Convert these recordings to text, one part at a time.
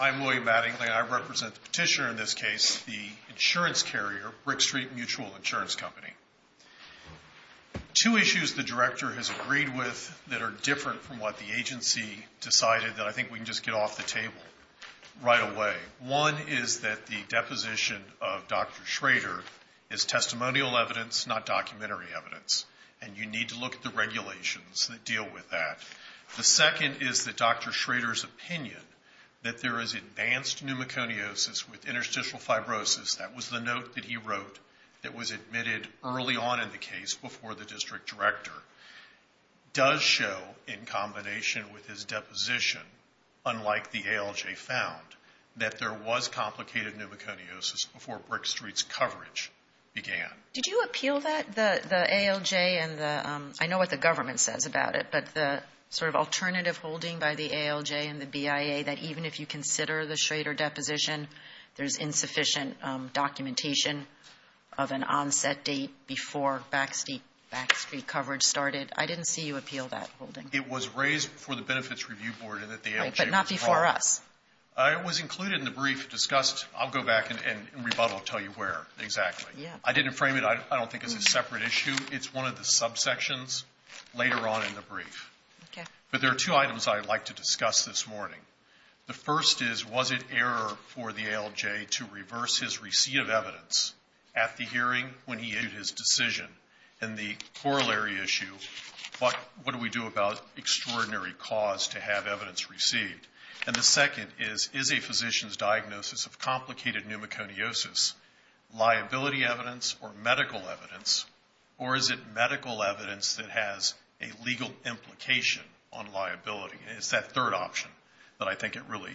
I'm William Mattingly. I represent the petitioner in this case, the insurance carrier, BrickStreet Mutual Insurance Company. Two issues the director has agreed with that are different from what the agency decided that I think we can just get off the table right away. One is that the deposition of Dr. Schrader is testimonial evidence, not documentary evidence. And you need to look at the regulations that deal with that. The second is that Dr. Schrader's opinion that there is advanced pneumoconiosis with interstitial fibrosis, that was the note that he wrote that was admitted early on in the case before the district director, does show in combination with his deposition, unlike the ALJ found, that there was complicated pneumoconiosis before BrickStreet's coverage began. Did you appeal that? The ALJ and the, I know what the government says about it, but the sort of alternative holding by the ALJ and the BIA that even if you consider the Schrader deposition, there's insufficient documentation of an onset date before Backstreet coverage started. I didn't see you appeal that holding. It was raised before the Benefits Review Board and at the ALJ. Right, but not before us. It was included in the brief discussed, I'll go back and in rebuttal tell you where exactly. Yeah. I didn't frame it. I don't think it's a separate issue. It's one of the subsections later on in the brief. Okay. But there are two items I'd like to discuss this morning. The first is, was it error for the ALJ to reverse his receipt of evidence at the hearing when he issued his decision? And the corollary issue, what do we do about extraordinary cause to have evidence received? And the second is, is a physician's diagnosis of complicated pneumoconiosis liability evidence or medical evidence, or is it medical evidence that has a legal implication on liability? And it's that third option that I think it really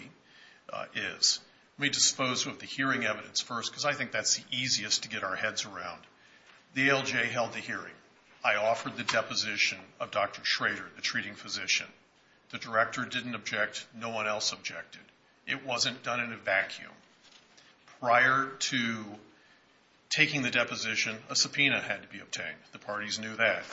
is. Let me dispose of the hearing evidence first because I think that's the easiest to get our heads around. The ALJ held the hearing. I offered the deposition of Dr. Schrader, the treating physician. The director didn't object. No one else objected. It wasn't done in a vacuum. Prior to taking the deposition, a subpoena had to be obtained. The parties knew that.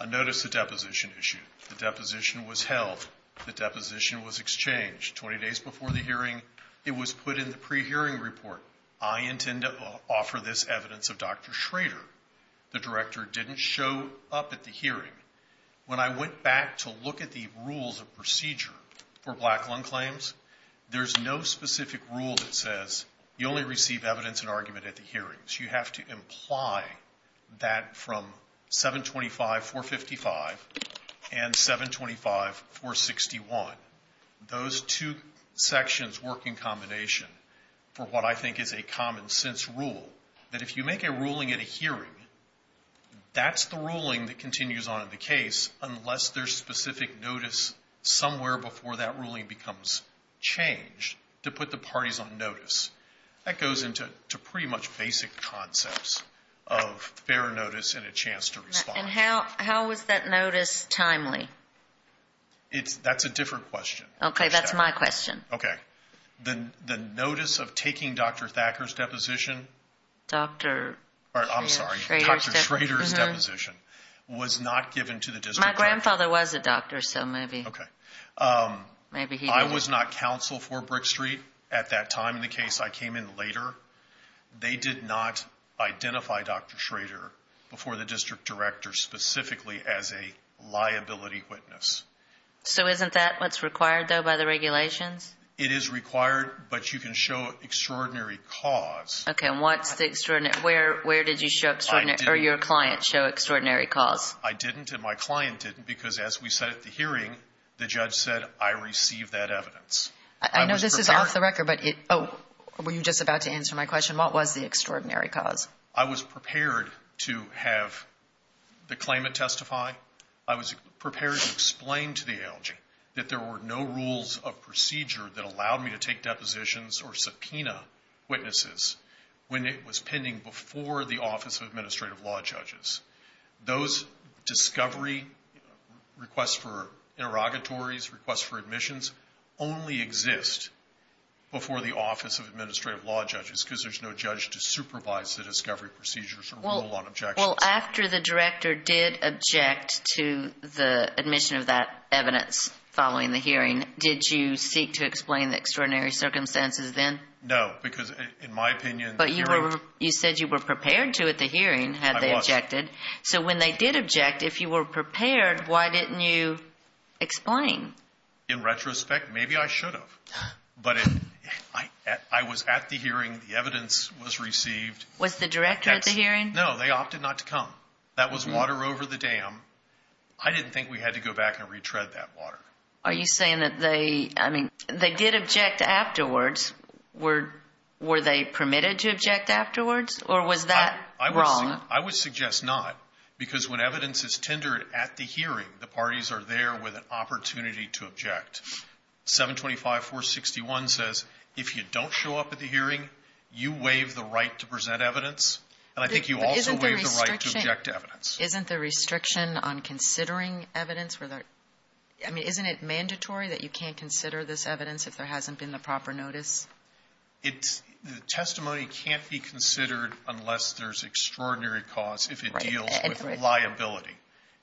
I noticed the deposition issue. The deposition was held. The deposition was exchanged 20 days before the hearing. It was put in the pre-hearing report. I intend to offer this evidence of Dr. Schrader. The director didn't show up at the hearing. When I went back to look at the rules of procedure for black lung claims, there's no specific rule that says you only receive evidence and argument at the hearings. You have to imply that from 725.455 and 725.461. Those two sections work in combination for what I think is a common sense rule, that if you make a ruling at a hearing, that's the ruling that continues on in the case unless there's specific notice somewhere before that ruling becomes changed to put the parties on notice. That goes into pretty much basic concepts of fair notice and a chance to respond. And how was that notice timely? That's a different question. Okay, that's my question. Okay. The notice of taking Dr. Thacker's deposition. Dr. Schrader's deposition. I'm sorry, Dr. Schrader's deposition was not given to the district attorney. My grandfather was a doctor, so maybe he didn't. They did not counsel for Brick Street at that time in the case. I came in later. They did not identify Dr. Schrader before the district director specifically as a liability witness. So isn't that what's required, though, by the regulations? It is required, but you can show extraordinary cause. Okay, and where did your client show extraordinary cause? I didn't and my client didn't because, as we said at the hearing, the judge said I received that evidence. I know this is off the record, but were you just about to answer my question? What was the extraordinary cause? I was prepared to have the claimant testify. I was prepared to explain to the ALG that there were no rules of procedure that allowed me to take depositions or subpoena witnesses when it was pending before the Office of Administrative Law Judges. Those discovery requests for interrogatories, requests for admissions, only exist before the Office of Administrative Law Judges because there's no judge to supervise the discovery procedures or rule on objections. Well, after the director did object to the admission of that evidence following the hearing, did you seek to explain the extraordinary circumstances then? No, because in my opinion the hearing – But you said you were prepared to at the hearing had they objected. So when they did object, if you were prepared, why didn't you explain? In retrospect, maybe I should have, but I was at the hearing. The evidence was received. Was the director at the hearing? No, they opted not to come. That was water over the dam. I didn't think we had to go back and retread that water. Are you saying that they – I mean, they did object afterwards. Were they permitted to object afterwards or was that wrong? I would suggest not, because when evidence is tendered at the hearing, the parties are there with an opportunity to object. 725-461 says if you don't show up at the hearing, you waive the right to present evidence, and I think you also waive the right to object to evidence. But isn't there restriction on considering evidence? I mean, isn't it mandatory that you can't consider this evidence if there hasn't been the proper notice? It's – the testimony can't be considered unless there's extraordinary cause if it deals with liability.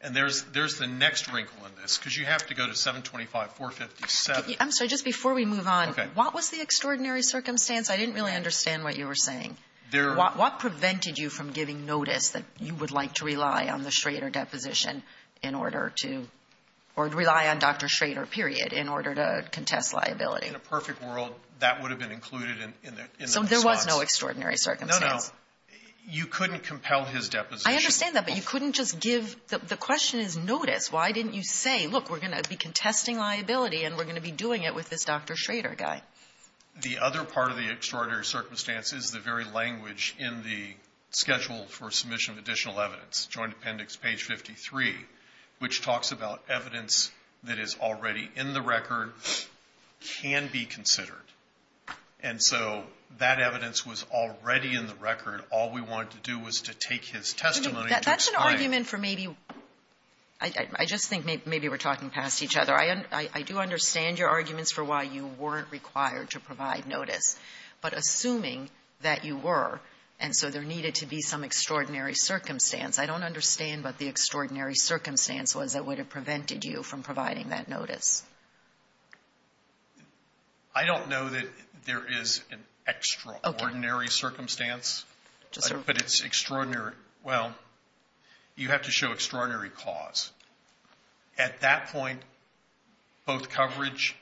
And there's the next wrinkle in this, because you have to go to 725-457. I'm sorry. Just before we move on. Okay. What was the extraordinary circumstance? I didn't really understand what you were saying. What prevented you from giving notice that you would like to rely on the Schrader deposition in order to – or rely on Dr. Schrader, period, in order to contest liability? In a perfect world, that would have been included in the response. So there was no extraordinary circumstance? No, no. You couldn't compel his deposition. I understand that, but you couldn't just give – the question is notice. Why didn't you say, look, we're going to be contesting liability, and we're going to be doing it with this Dr. Schrader guy? The other part of the extraordinary circumstance is the very language in the schedule for submission of additional evidence, Joint Appendix, page 53, which talks about evidence that is already in the record can be considered. And so that evidence was already in the record. All we wanted to do was to take his testimony and to explain it. That's an argument for maybe – I just think maybe we're talking past each other. I do understand your arguments for why you weren't required to provide notice. But assuming that you were, and so there needed to be some extraordinary circumstance, I don't understand what the extraordinary circumstance was that would have prevented you from providing that notice. I don't know that there is an extraordinary circumstance, but it's extraordinary – well, you have to show extraordinary cause. At that point, both coverage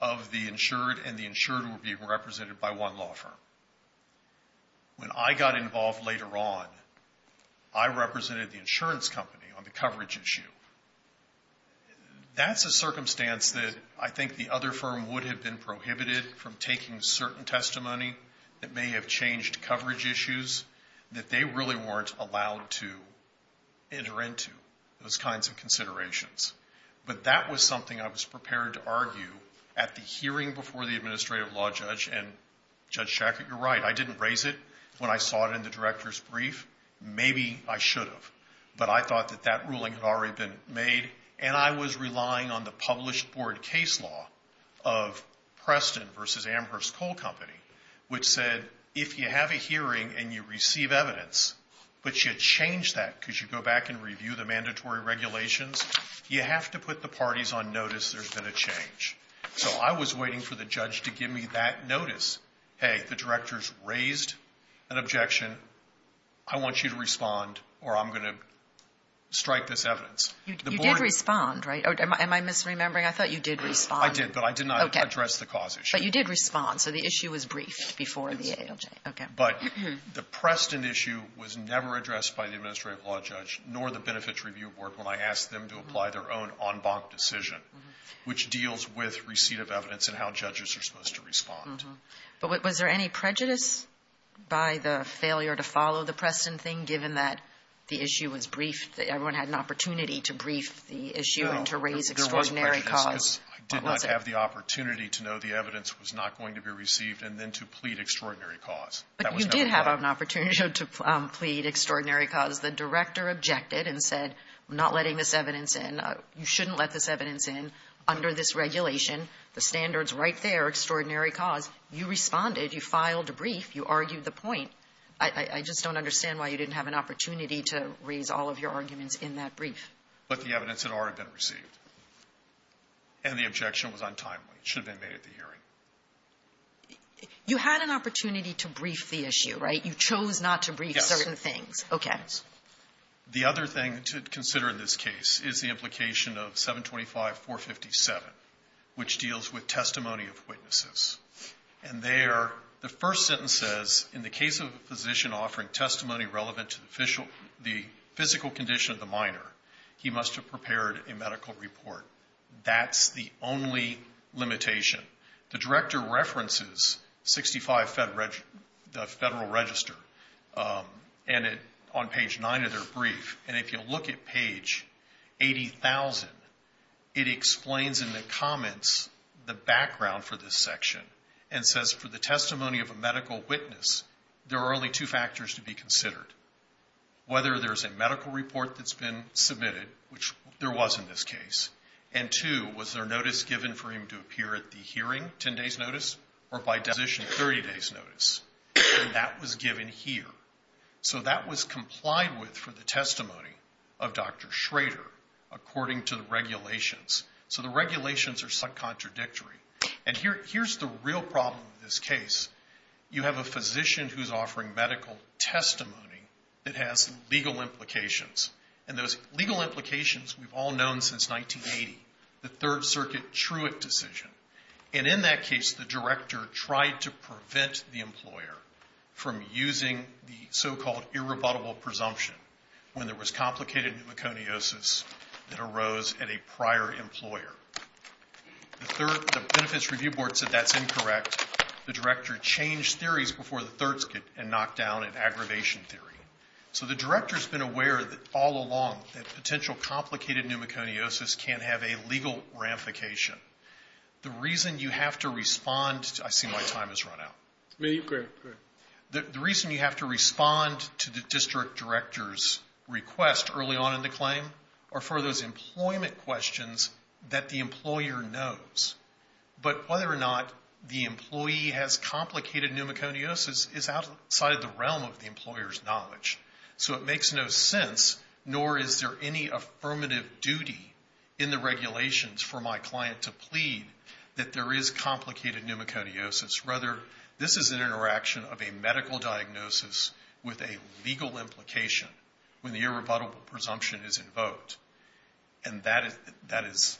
of the insured and the insured were being represented by one law firm. When I got involved later on, I represented the insurance company on the coverage issue. That's a circumstance that I think the other firm would have been prohibited from taking certain testimony that may have changed coverage issues that they really weren't allowed to enter into, those kinds of considerations. But that was something I was prepared to argue at the hearing before the I didn't raise it when I saw it in the director's brief. Maybe I should have. But I thought that that ruling had already been made, and I was relying on the published board case law of Preston v. Amherst Coal Company, which said if you have a hearing and you receive evidence, but you change that because you go back and review the mandatory regulations, you have to put the parties on notice there's been a change. So I was waiting for the judge to give me that notice. Hey, the director's raised an objection. I want you to respond, or I'm going to strike this evidence. You did respond, right? Am I misremembering? I thought you did respond. I did, but I did not address the cause issue. But you did respond, so the issue was briefed before the ALJ. But the Preston issue was never addressed by the administrative law judge nor the Benefits Review Board when I asked them to apply their own en banc decision, which deals with receipt of evidence and how judges are supposed to respond. But was there any prejudice by the failure to follow the Preston thing, given that the issue was briefed, that everyone had an opportunity to brief the issue and to raise extraordinary cause? No, there was prejudice. I did not have the opportunity to know the evidence was not going to be received and then to plead extraordinary cause. But you did have an opportunity to plead extraordinary cause. The director objected and said, I'm not letting this evidence in. You shouldn't let this evidence in under this regulation. The standard's right there, extraordinary cause. You responded. You filed a brief. You argued the point. I just don't understand why you didn't have an opportunity to raise all of your arguments in that brief. But the evidence had already been received. And the objection was untimely. It should have been made at the hearing. You had an opportunity to brief the issue, right? You chose not to brief certain things. Yes. Okay. The other thing to consider in this case is the implication of 725.457, which deals with testimony of witnesses. And there, the first sentence says, in the case of a physician offering testimony relevant to the physical condition of the minor, he must have prepared a medical report. That's the only limitation. The director references 65 Federal Register, and on page 9 of their brief, and if you'll look at page 80,000, it explains in the comments the background for this section and says, for the testimony of a medical witness, there are only two factors to be considered. Whether there's a medical report that's been submitted, which there was in this case, and two, was there notice given for him to appear at the hearing, 10 days' notice, or by deposition, 30 days' notice? And that was given here. So that was complied with for the testimony of Dr. Schrader, according to the regulations. So the regulations are subcontradictory. And here's the real problem with this case. You have a physician who's offering medical testimony that has legal implications. And those legal implications we've all known since 1980, the Third Circuit Truick decision. And in that case, the director tried to prevent the employer from using the so-called irrebuttable presumption when there was complicated pneumoconiosis that arose at a prior employer. The Benefits Review Board said that's incorrect. The director changed theories before the thirds could, and knocked down an aggravation theory. So the director's been aware all along that potential complicated pneumoconiosis can have a legal ramification. The reason you have to respond to the district director's request early on in the claim are for those employment questions that the employer knows. But whether or not the employee has complicated pneumoconiosis is outside the realm of the employer's knowledge. So it makes no sense, nor is there any affirmative duty in the regulations for my client to plead that there is complicated pneumoconiosis. Rather, this is an interaction of a medical diagnosis with a legal implication when the irrebuttable presumption is invoked. And that is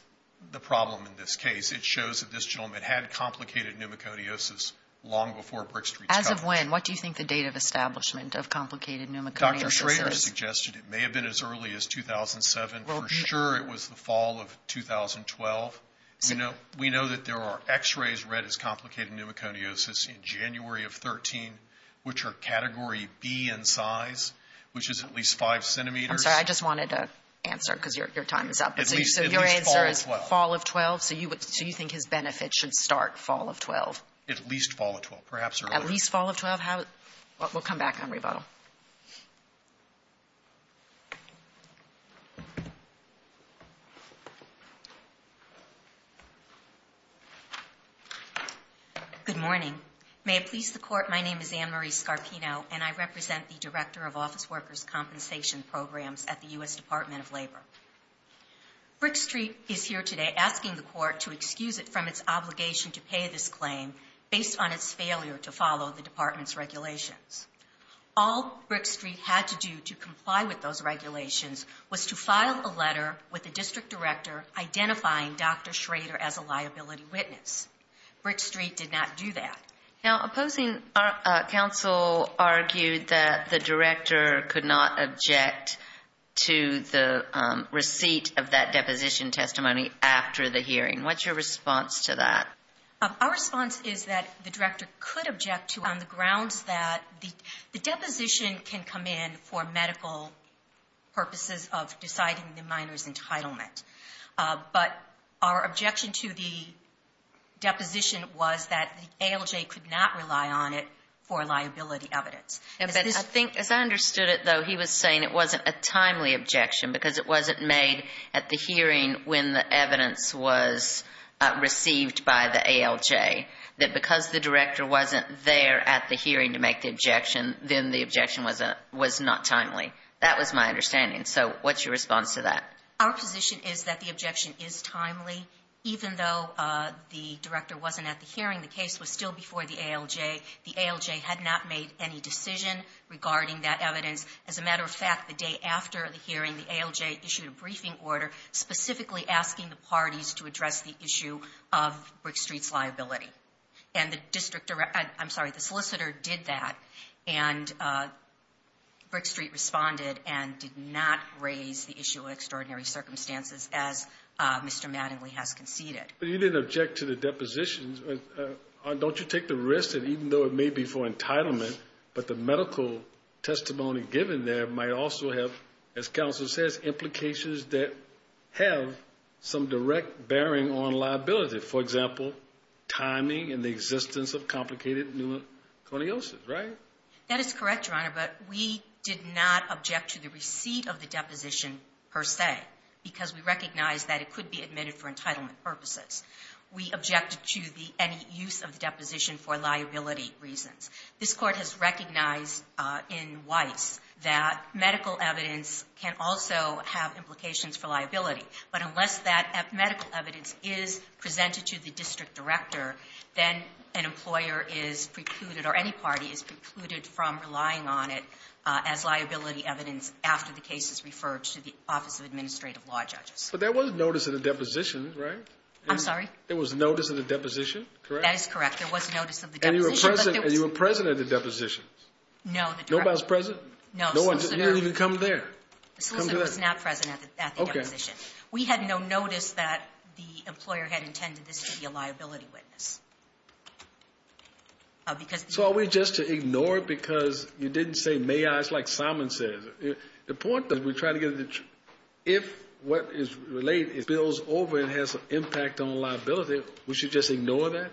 the problem in this case. It shows that this gentleman had complicated pneumoconiosis long before Brick Street's coverage. As of when? What do you think the date of establishment of complicated pneumoconiosis is? Dr. Schrader suggested it may have been as early as 2007. For sure it was the fall of 2012. We know that there are X-rays read as complicated pneumoconiosis in January of 2013, which are Category B in size, which is at least 5 centimeters. I'm sorry. I just wanted to answer because your time is up. So your answer is fall of 12? So you think his benefit should start fall of 12? At least fall of 12. Perhaps earlier. At least fall of 12? We'll come back on rebuttal. Good morning. May it please the Court, my name is Anne-Marie Scarpino, and I represent the Director of Office Workers' Compensation Programs at the U.S. Department of Labor. Brick Street is here today asking the Court to excuse it from its obligation to pay this claim based on its failure to follow the Department's regulations. All Brick Street had to do to comply with those regulations was to file a letter with the District Director identifying Dr. Schrader as a liability witness. Brick Street did not do that. Now, opposing counsel argued that the Director could not object to the receipt of that deposition testimony after the hearing. What's your response to that? Our response is that the Director could object to it on the grounds that the deposition can come in for medical purposes of deciding the minor's entitlement. But our objection to the deposition was that the ALJ could not rely on it for liability evidence. But I think, as I understood it, though, he was saying it wasn't a timely objection because it wasn't made at the hearing when the evidence was received by the ALJ, that because the Director wasn't there at the hearing to make the objection, then the objection was not timely. That was my understanding. So what's your response to that? Our position is that the objection is timely. Even though the Director wasn't at the hearing, the case was still before the ALJ. The ALJ had not made any decision regarding that evidence. As a matter of fact, the day after the hearing, the ALJ issued a briefing order specifically asking the parties to address the issue of Brick Street's liability. And the solicitor did that, and Brick Street responded and did not raise the issue of extraordinary circumstances as Mr. Mattingly has conceded. But you didn't object to the depositions. Don't you take the risk that even though it may be for entitlement, but the medical testimony given there might also have, as counsel says, implications that have some direct bearing on liability? For example, timing and the existence of complicated pneumoconiosis, right? That is correct, Your Honor, but we did not object to the receipt of the deposition per se because we recognized that it could be admitted for entitlement purposes. We objected to any use of the deposition for liability reasons. This Court has recognized in Weiss that medical evidence can also have implications for liability, but unless that medical evidence is presented to the district director, then an employer is precluded or any party is precluded from relying on it as liability evidence after the case is referred to the Office of Administrative Law Judges. But there was notice of the deposition, right? I'm sorry? There was notice of the deposition, correct? That is correct. There was notice of the deposition. And you were present at the deposition? No. Nobody was present? No. You didn't even come there. The solicitor was not present at the deposition. We had no notice that the employer had intended this to be a liability witness. So are we just to ignore it because you didn't say may I? It's like Simon says. The point that we're trying to get is that if what is relayed is bills over and has an impact on liability, we should just ignore that?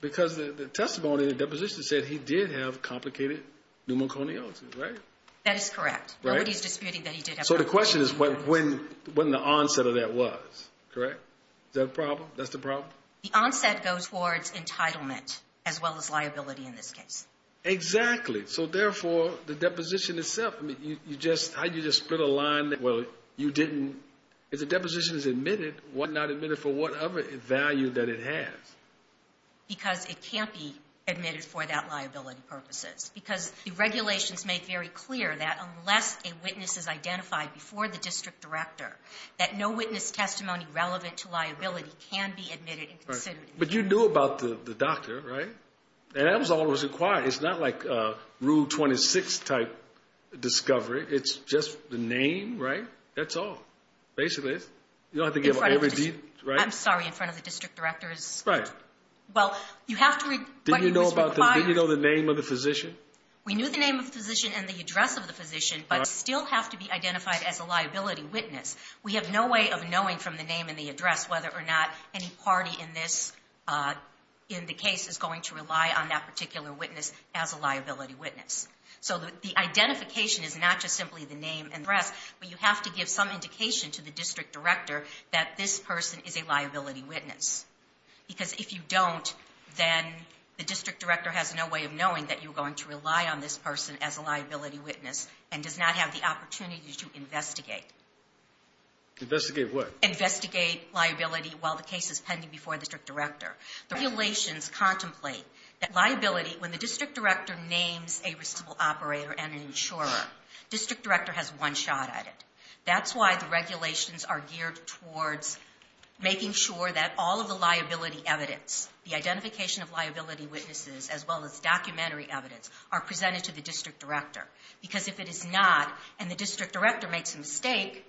Because the testimony in the deposition said he did have complicated pneumoconiosis, right? That is correct. Right? Nobody is disputing that he did have pneumoconiosis. So the question is when the onset of that was, correct? Is that a problem? That's the problem? The onset goes towards entitlement as well as liability in this case. Exactly. So, therefore, the deposition itself, how did you just split a line? Well, you didn't. If the deposition is admitted, why not admit it for whatever value that it has? Because it can't be admitted for that liability purposes. Because the regulations make very clear that unless a witness is identified before the district director, that no witness testimony relevant to liability can be admitted and considered. But you knew about the doctor, right? And that was all that was required. It's not like Rule 26 type discovery. It's just the name, right? That's all, basically. You don't have to give every deed, right? I'm sorry, in front of the district directors. Right. Well, you have to read what was required. Did you know the name of the physician? We knew the name of the physician and the address of the physician, but still have to be identified as a liability witness. We have no way of knowing from the name and the address whether or not any party in this case is going to rely on that particular witness as a liability witness. So the identification is not just simply the name and address, but you have to give some indication to the district director that this person is a liability witness. Because if you don't, then the district director has no way of knowing that you're going to rely on this person as a liability witness and does not have the opportunity to investigate. Investigate what? Investigate liability while the case is pending before the district director. The regulations contemplate that liability, when the district director names a receivable operator and an insurer, district director has one shot at it. That's why the regulations are geared towards making sure that all of the liability evidence, the identification of liability witnesses as well as documentary evidence, are presented to the district director. Because if it is not, and the district director makes a mistake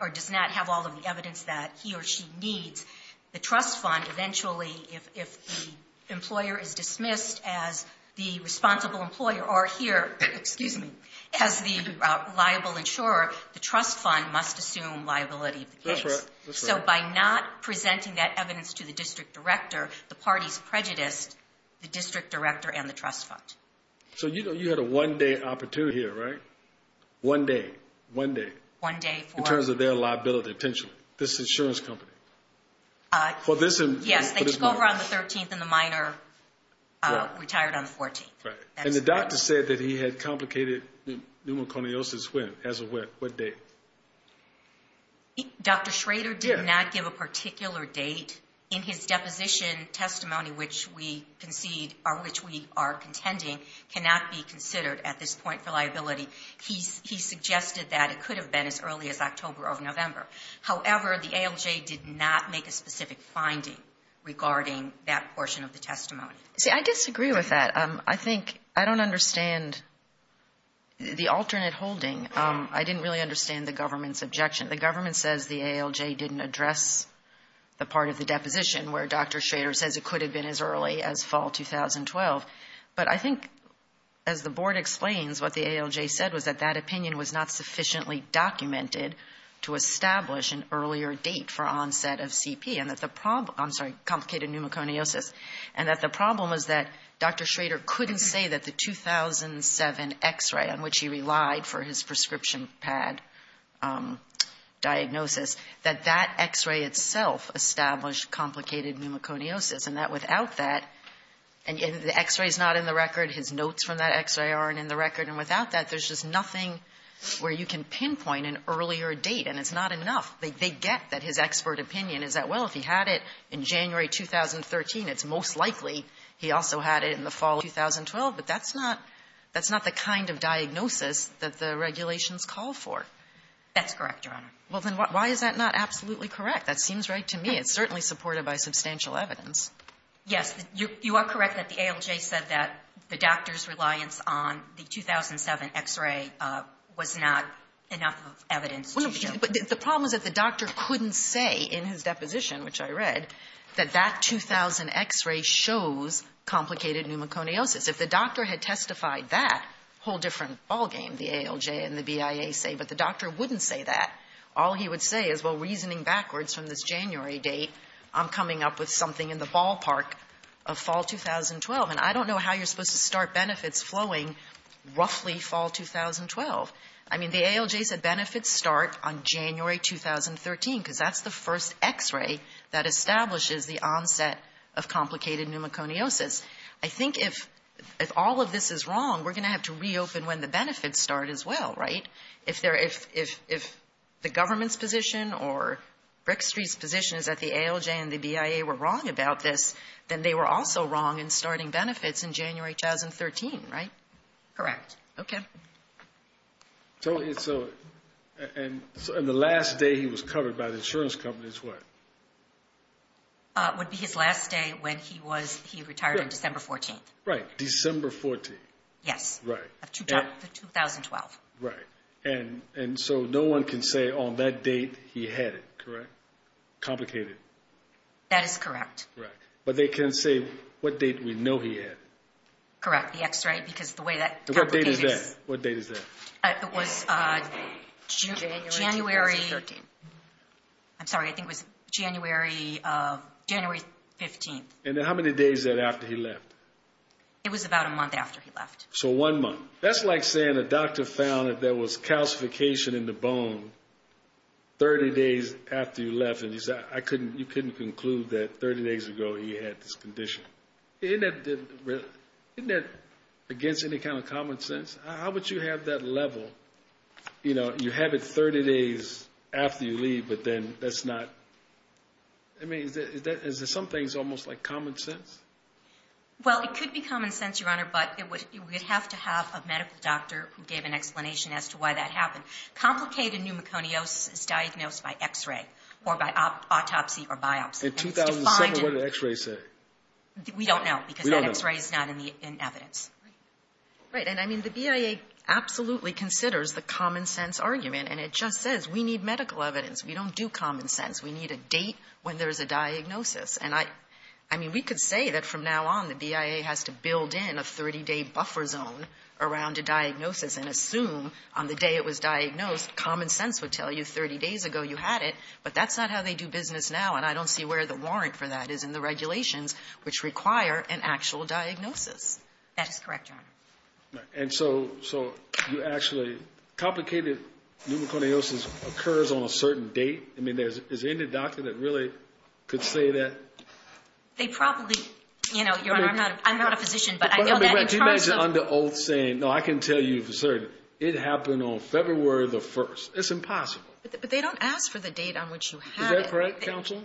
or does not have all of the evidence that he or she needs, the trust fund eventually, if the employer is dismissed as the responsible employer or here as the liable insurer, the trust fund must assume liability of the case. That's right. So by not presenting that evidence to the district director, the party's prejudiced the district director and the trust fund. So you had a one-day opportunity here, right? One day. One day. One day for? In terms of their liability, potentially, this insurance company. Yes, they took over on the 13th and the minor retired on the 14th. And the doctor said that he had complicated pneumoconiosis when? As of what date? Dr. Schrader did not give a particular date. In his deposition testimony, which we are contending, cannot be considered at this point for liability. He suggested that it could have been as early as October or November. However, the ALJ did not make a specific finding regarding that portion of the testimony. See, I disagree with that. I think I don't understand the alternate holding. I didn't really understand the government's objection. The government says the ALJ didn't address the part of the deposition where Dr. Schrader says it could have been as early as fall 2012. But I think, as the board explains, what the ALJ said was that that opinion was not sufficiently documented to establish an earlier date for onset of CP and that the problem was that Dr. Schrader couldn't say that the 2007 X-ray, on which he relied for his prescription pad diagnosis, that that X-ray itself established complicated pneumoconiosis, and that without that the X-ray is not in the record. His notes from that X-ray aren't in the record. And without that, there's just nothing where you can pinpoint an earlier date, and it's not enough. They get that his expert opinion is that, well, if he had it in January 2013, it's most likely he also had it in the fall of 2012. But that's not the kind of diagnosis that the regulations call for. That's correct, Your Honor. Well, then why is that not absolutely correct? That seems right to me. It's certainly supported by substantial evidence. Yes. You are correct that the ALJ said that the doctor's reliance on the 2007 X-ray was not enough evidence to show. But the problem is that the doctor couldn't say in his deposition, which I read, that that 2000 X-ray shows complicated pneumoconiosis. If the doctor had testified that, a whole different ballgame, the ALJ and the BIA say. But the doctor wouldn't say that. All he would say is, well, reasoning backwards from this January date, I'm coming up with something in the ballpark of fall 2012. And I don't know how you're supposed to start benefits flowing roughly fall 2012. I mean, the ALJ said benefits start on January 2013, because that's the first X-ray that establishes the onset of complicated pneumoconiosis. I think if all of this is wrong, we're going to have to reopen when the benefits start as well, right? If the government's position or Brick Street's position is that the ALJ and the BIA were wrong about this, then they were also wrong in starting benefits in January 2013, right? Correct. Okay. And the last day he was covered by the insurance companies, what? It would be his last day when he retired on December 14th. Right. December 14th. Yes. Right. 2012. Right. And so no one can say on that date he had it, correct? Complicated. That is correct. Right. But they can say what date we know he had it. Correct. The X-ray. What date is that? It was January 13th. I'm sorry. I think it was January 15th. And how many days after he left? It was about a month after he left. So one month. That's like saying a doctor found that there was calcification in the bone 30 days after he left, and you couldn't conclude that 30 days ago he had this condition. Isn't that against any kind of common sense? How would you have that level? You know, you have it 30 days after you leave, but then that's not – I mean, is there some things almost like common sense? Well, it could be common sense, Your Honor, but you would have to have a medical doctor who gave an explanation as to why that happened. Complicated pneumoconiosis is diagnosed by X-ray or by autopsy or biopsy. In 2007, what did the X-ray say? We don't know because that X-ray is not in evidence. Right. And, I mean, the BIA absolutely considers the common sense argument, and it just says we need medical evidence. We don't do common sense. We need a date when there's a diagnosis. And, I mean, we could say that from now on the BIA has to build in a 30-day buffer zone around a diagnosis and assume on the day it was diagnosed common sense would tell you 30 days ago you had it, but that's not how they do business now, and I don't see where the warrant for that is in the regulations, which require an actual diagnosis. That is correct, Your Honor. And so you actually – complicated pneumoconiosis occurs on a certain date? I mean, is there any doctor that really could say that? They probably – you know, Your Honor, I'm not a physician, but I know that in terms of – But, I mean, can you imagine under oath saying, no, I can tell you for certain it happened on February the 1st? It's impossible. But they don't ask for the date on which you had it. Is that correct, counsel?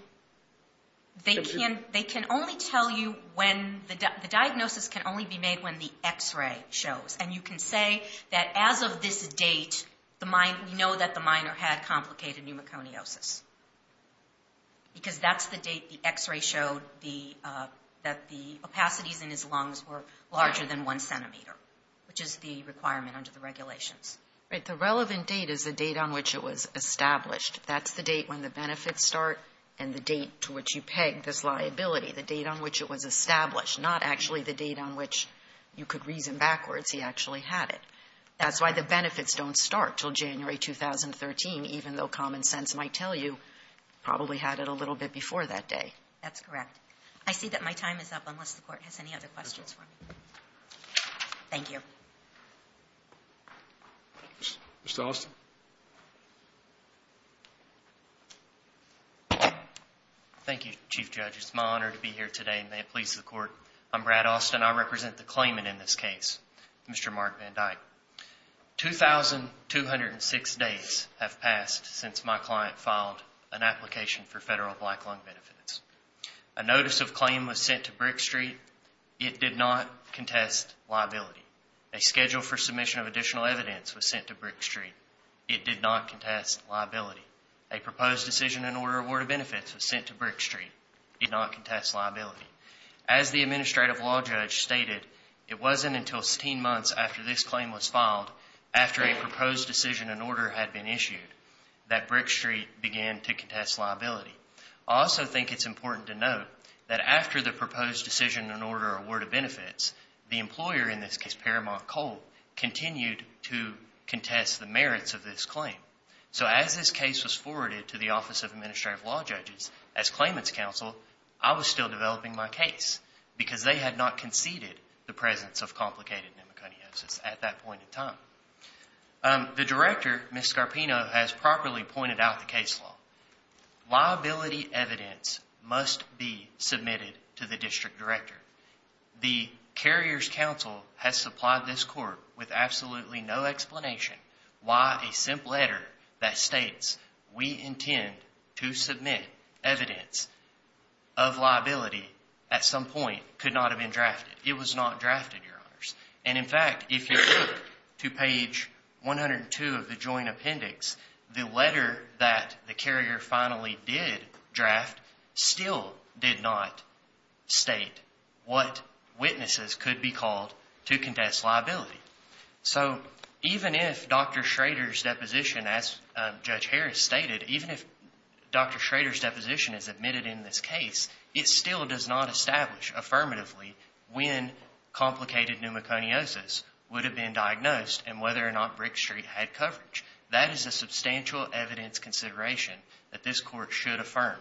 They can only tell you when – the diagnosis can only be made when the X-ray shows, and you can say that as of this date we know that the minor had complicated pneumoconiosis because that's the date the X-ray showed that the opacities in his lungs were larger than one centimeter, which is the requirement under the regulations. Right. The relevant date is the date on which it was established. That's the date when the benefits start and the date to which you peg this liability, the date on which it was established, not actually the date on which you could reason backwards he actually had it. That's why the benefits don't start until January 2013, even though common sense might tell you he probably had it a little bit before that day. That's correct. I see that my time is up unless the Court has any other questions for me. Thank you. Thank you. Mr. Austin. Thank you, Chief Judge. It's my honor to be here today, and may it please the Court. I'm Brad Austin. I represent the claimant in this case, Mr. Mark Van Dyke. 2,206 days have passed since my client filed an application for federal black lung benefits. A notice of claim was sent to Brick Street. It did not contest liability. A schedule for submission of additional evidence was sent to Brick Street. It did not contest liability. A proposed decision and order of benefits was sent to Brick Street. It did not contest liability. As the administrative law judge stated, it wasn't until 16 months after this claim was filed, after a proposed decision and order had been issued, that Brick Street began to contest liability. I also think it's important to note that after the proposed decision and order award of benefits, the employer, in this case Paramount Coal, continued to contest the merits of this claim. So as this case was forwarded to the Office of Administrative Law Judges as claimant's counsel, I was still developing my case, because they had not conceded the presence of complicated pneumoconiosis at that point in time. The director, Ms. Scarpino, has properly pointed out the case law. Liability evidence must be submitted to the district director. The carrier's counsel has supplied this court with absolutely no explanation why a simple letter that states, we intend to submit evidence of liability, at some point, could not have been drafted. It was not drafted, Your Honors. And in fact, if you look to page 102 of the joint appendix, the letter that the carrier finally did draft still did not state what witnesses could be called to contest liability. So even if Dr. Schrader's deposition, as Judge Harris stated, even if Dr. Schrader's deposition is admitted in this case, it still does not establish, affirmatively, when complicated pneumoconiosis would have been diagnosed and whether or not Brick Street had coverage. That is a substantial evidence consideration that this court should affirm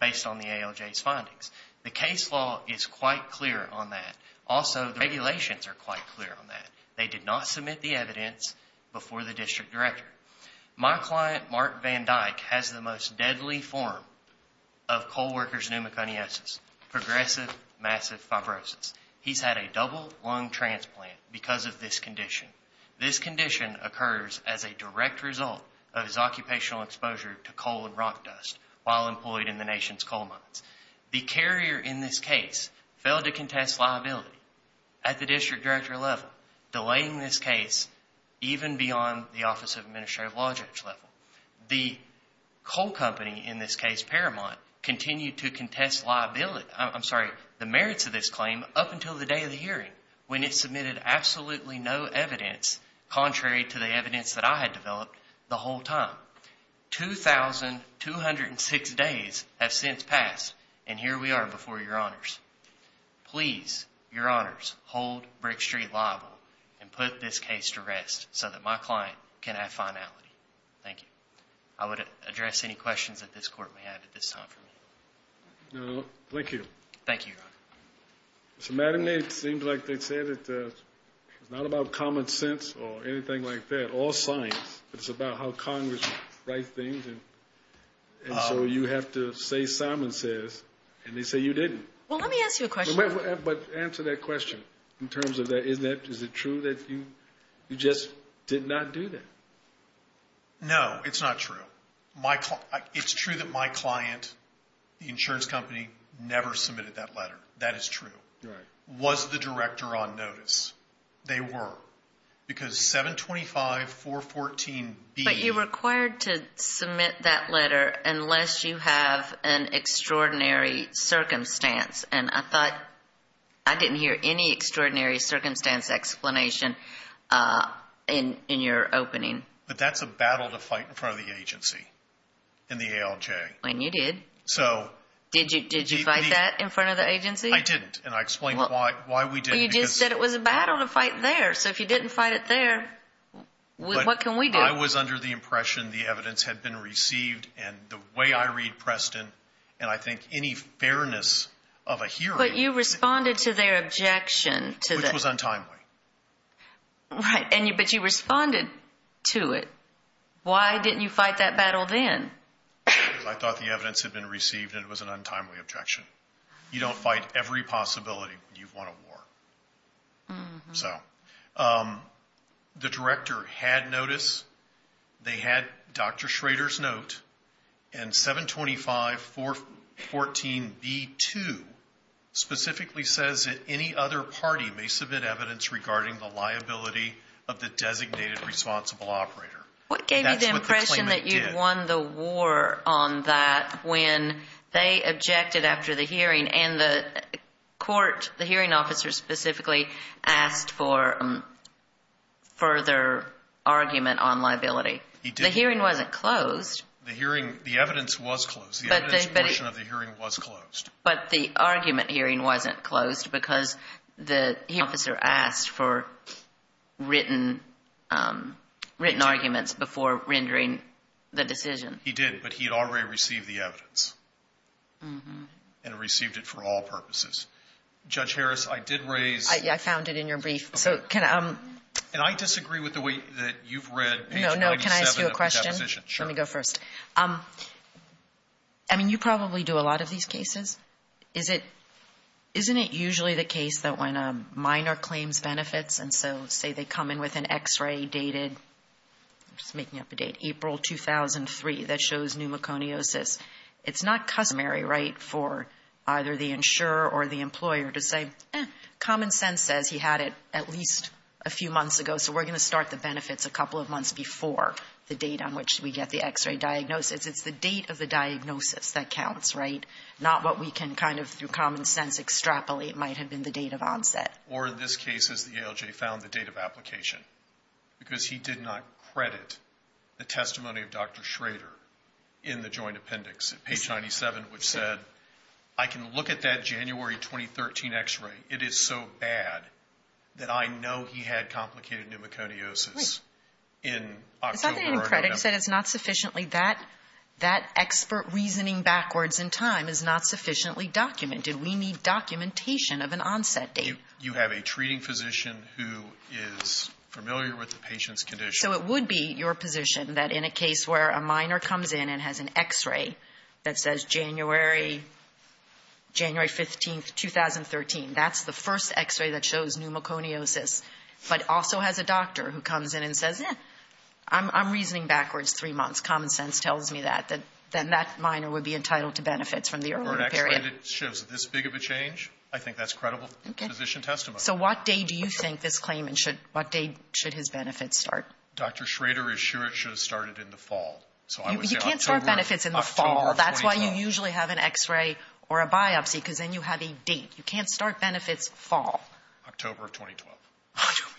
based on the ALJ's findings. The case law is quite clear on that. Also, the regulations are quite clear on that. They did not submit the evidence before the district director. My client, Mark Van Dyke, has the most deadly form of coal worker's pneumoconiosis, progressive massive fibrosis. He's had a double lung transplant because of this condition. This condition occurs as a direct result of his occupational exposure to coal and rock dust while employed in the nation's coal mines. The carrier in this case failed to contest liability at the district director level, delaying this case even beyond the Office of Administrative Law Judge level. The coal company, in this case, Paramount, continued to contest the merits of this claim up until the day of the hearing when it submitted absolutely no evidence contrary to the evidence that I had developed the whole time. 2,206 days have since passed, and here we are before Your Honors. Please, Your Honors, hold Brick Street liable and put this case to rest so that my client can have finality. Thank you. I would address any questions that this court may have at this time for me. Thank you. Thank you, Your Honor. Mr. Mattingly, it seems like they say that it's not about common sense or anything like that, or science, but it's about how Congress writes things, and so you have to say, Simon says, and they say you didn't. Well, let me ask you a question. But answer that question in terms of is it true that you just did not do that? No, it's not true. It's true that my client, the insurance company, never submitted that letter. That is true. Was the director on notice? They were because 725.414B. But you're required to submit that letter unless you have an extraordinary circumstance, and I thought I didn't hear any extraordinary circumstance explanation in your opening. But that's a battle to fight in front of the agency and the ALJ. And you did. Did you fight that in front of the agency? I didn't, and I explained why we didn't. You just said it was a battle to fight there, so if you didn't fight it there, what can we do? I was under the impression the evidence had been received, and the way I read Preston, and I think any fairness of a hearing. But you responded to their objection. Which was untimely. Right, but you responded to it. Why didn't you fight that battle then? I thought the evidence had been received, and it was an untimely objection. You don't fight every possibility when you've won a war. So the director had notice. They had Dr. Schrader's note, and 725.414.b.2 specifically says that any other party may submit evidence regarding the liability of the designated responsible operator. What gave you the impression that you'd won the war on that when they objected after the hearing and the hearing officer specifically asked for further argument on liability? The hearing wasn't closed. The evidence was closed. The evidence portion of the hearing was closed. But the argument hearing wasn't closed because the hearing officer asked for written arguments before rendering the decision. He did, but he had already received the evidence and received it for all purposes. Judge Harris, I did raise I found it in your brief. So can I And I disagree with the way that you've read page 97 of the deposition. No, no. Can I ask you a question? Sure. Let me go first. I mean, you probably do a lot of these cases. Isn't it usually the case that when a minor claims benefits, and so say they come in with an X-ray dated I'm just making up a date, April 2003, that shows pneumoconiosis, it's not customary, right, for either the insurer or the employer to say, eh, common sense says he had it at least a few months ago, so we're going to start the benefits a couple of months before the date on which we get the X-ray diagnosis. It's the date of the diagnosis that counts, right? Not what we can kind of, through common sense, extrapolate might have been the date of onset. Or in this case is the ALJ found the date of application, because he did not credit the testimony of Dr. Schrader in the joint appendix, page 97, which said, I can look at that January 2013 X-ray. It is so bad that I know he had complicated pneumoconiosis in October or November. It's not that he didn't credit, it's that it's not sufficiently, that expert reasoning backwards in time is not sufficiently documented. We need documentation of an onset date. You have a treating physician who is familiar with the patient's condition. So it would be your position that in a case where a minor comes in and has an X-ray that says January 15, 2013, that's the first X-ray that shows pneumoconiosis, but also has a doctor who comes in and says, eh, I'm reasoning backwards three months, common sense tells me that, then that minor would be entitled to benefits from the early period. And it shows this big of a change. I think that's credible physician testimony. So what day do you think this claimant should, what day should his benefits start? Dr. Schrader is sure it should have started in the fall. You can't start benefits in the fall. That's why you usually have an X-ray or a biopsy, because then you have a date. You can't start benefits fall. October of 2012.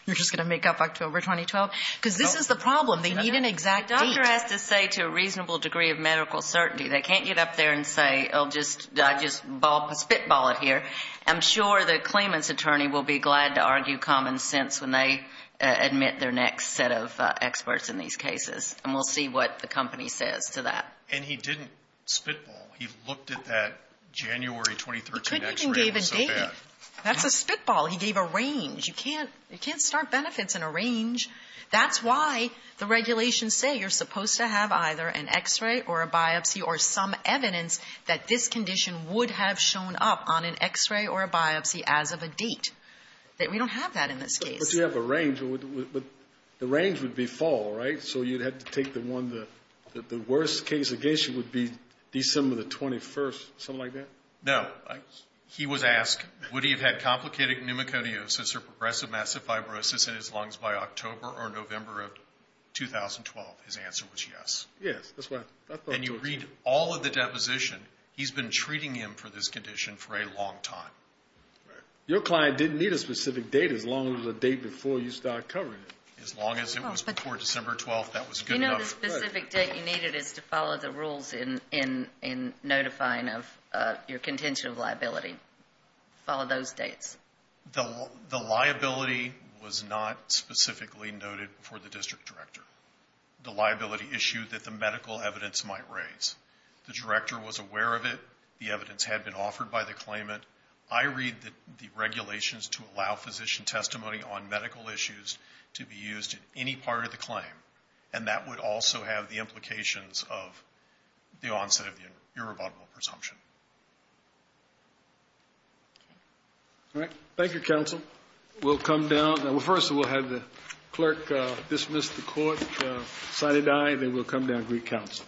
You're just going to make up October 2012? Because this is the problem. They need an exact date. The doctor has to say to a reasonable degree of medical certainty. They can't get up there and say, oh, just spitball it here. I'm sure the claimant's attorney will be glad to argue common sense when they admit their next set of experts in these cases. And we'll see what the company says to that. And he didn't spitball. He looked at that January 2013 X-ray. He couldn't even date it. That's a spitball. He gave a range. You can't start benefits in a range. That's why the regulations say you're supposed to have either an X-ray or a biopsy or some evidence that this condition would have shown up on an X-ray or a biopsy as of a date. We don't have that in this case. But you have a range. The range would be fall, right? So you'd have to take the one the worst case against you would be December the 21st, something like that? No. He was asked, would he have had complicated pneumoconiosis or progressive massive fibrosis in his lungs by October or November of 2012? His answer was yes. Yes, that's why. And you read all of the deposition. He's been treating him for this condition for a long time. Your client didn't need a specific date as long as the date before you start covering it. As long as it was before December 12th, that was good enough. The specific date you needed is to follow the rules in notifying of your contention of liability. Follow those dates. The liability was not specifically noted for the district director. The liability issued that the medical evidence might raise. The director was aware of it. The evidence had been offered by the claimant. I read the regulations to allow physician testimony on medical issues to be used in any part of the claim. And that would also have the implications of the onset of your rebuttable presumption. All right. Thank you, counsel. We'll come down. First, we'll have the clerk dismiss the court, sign a die, and then we'll come down and greet counsel.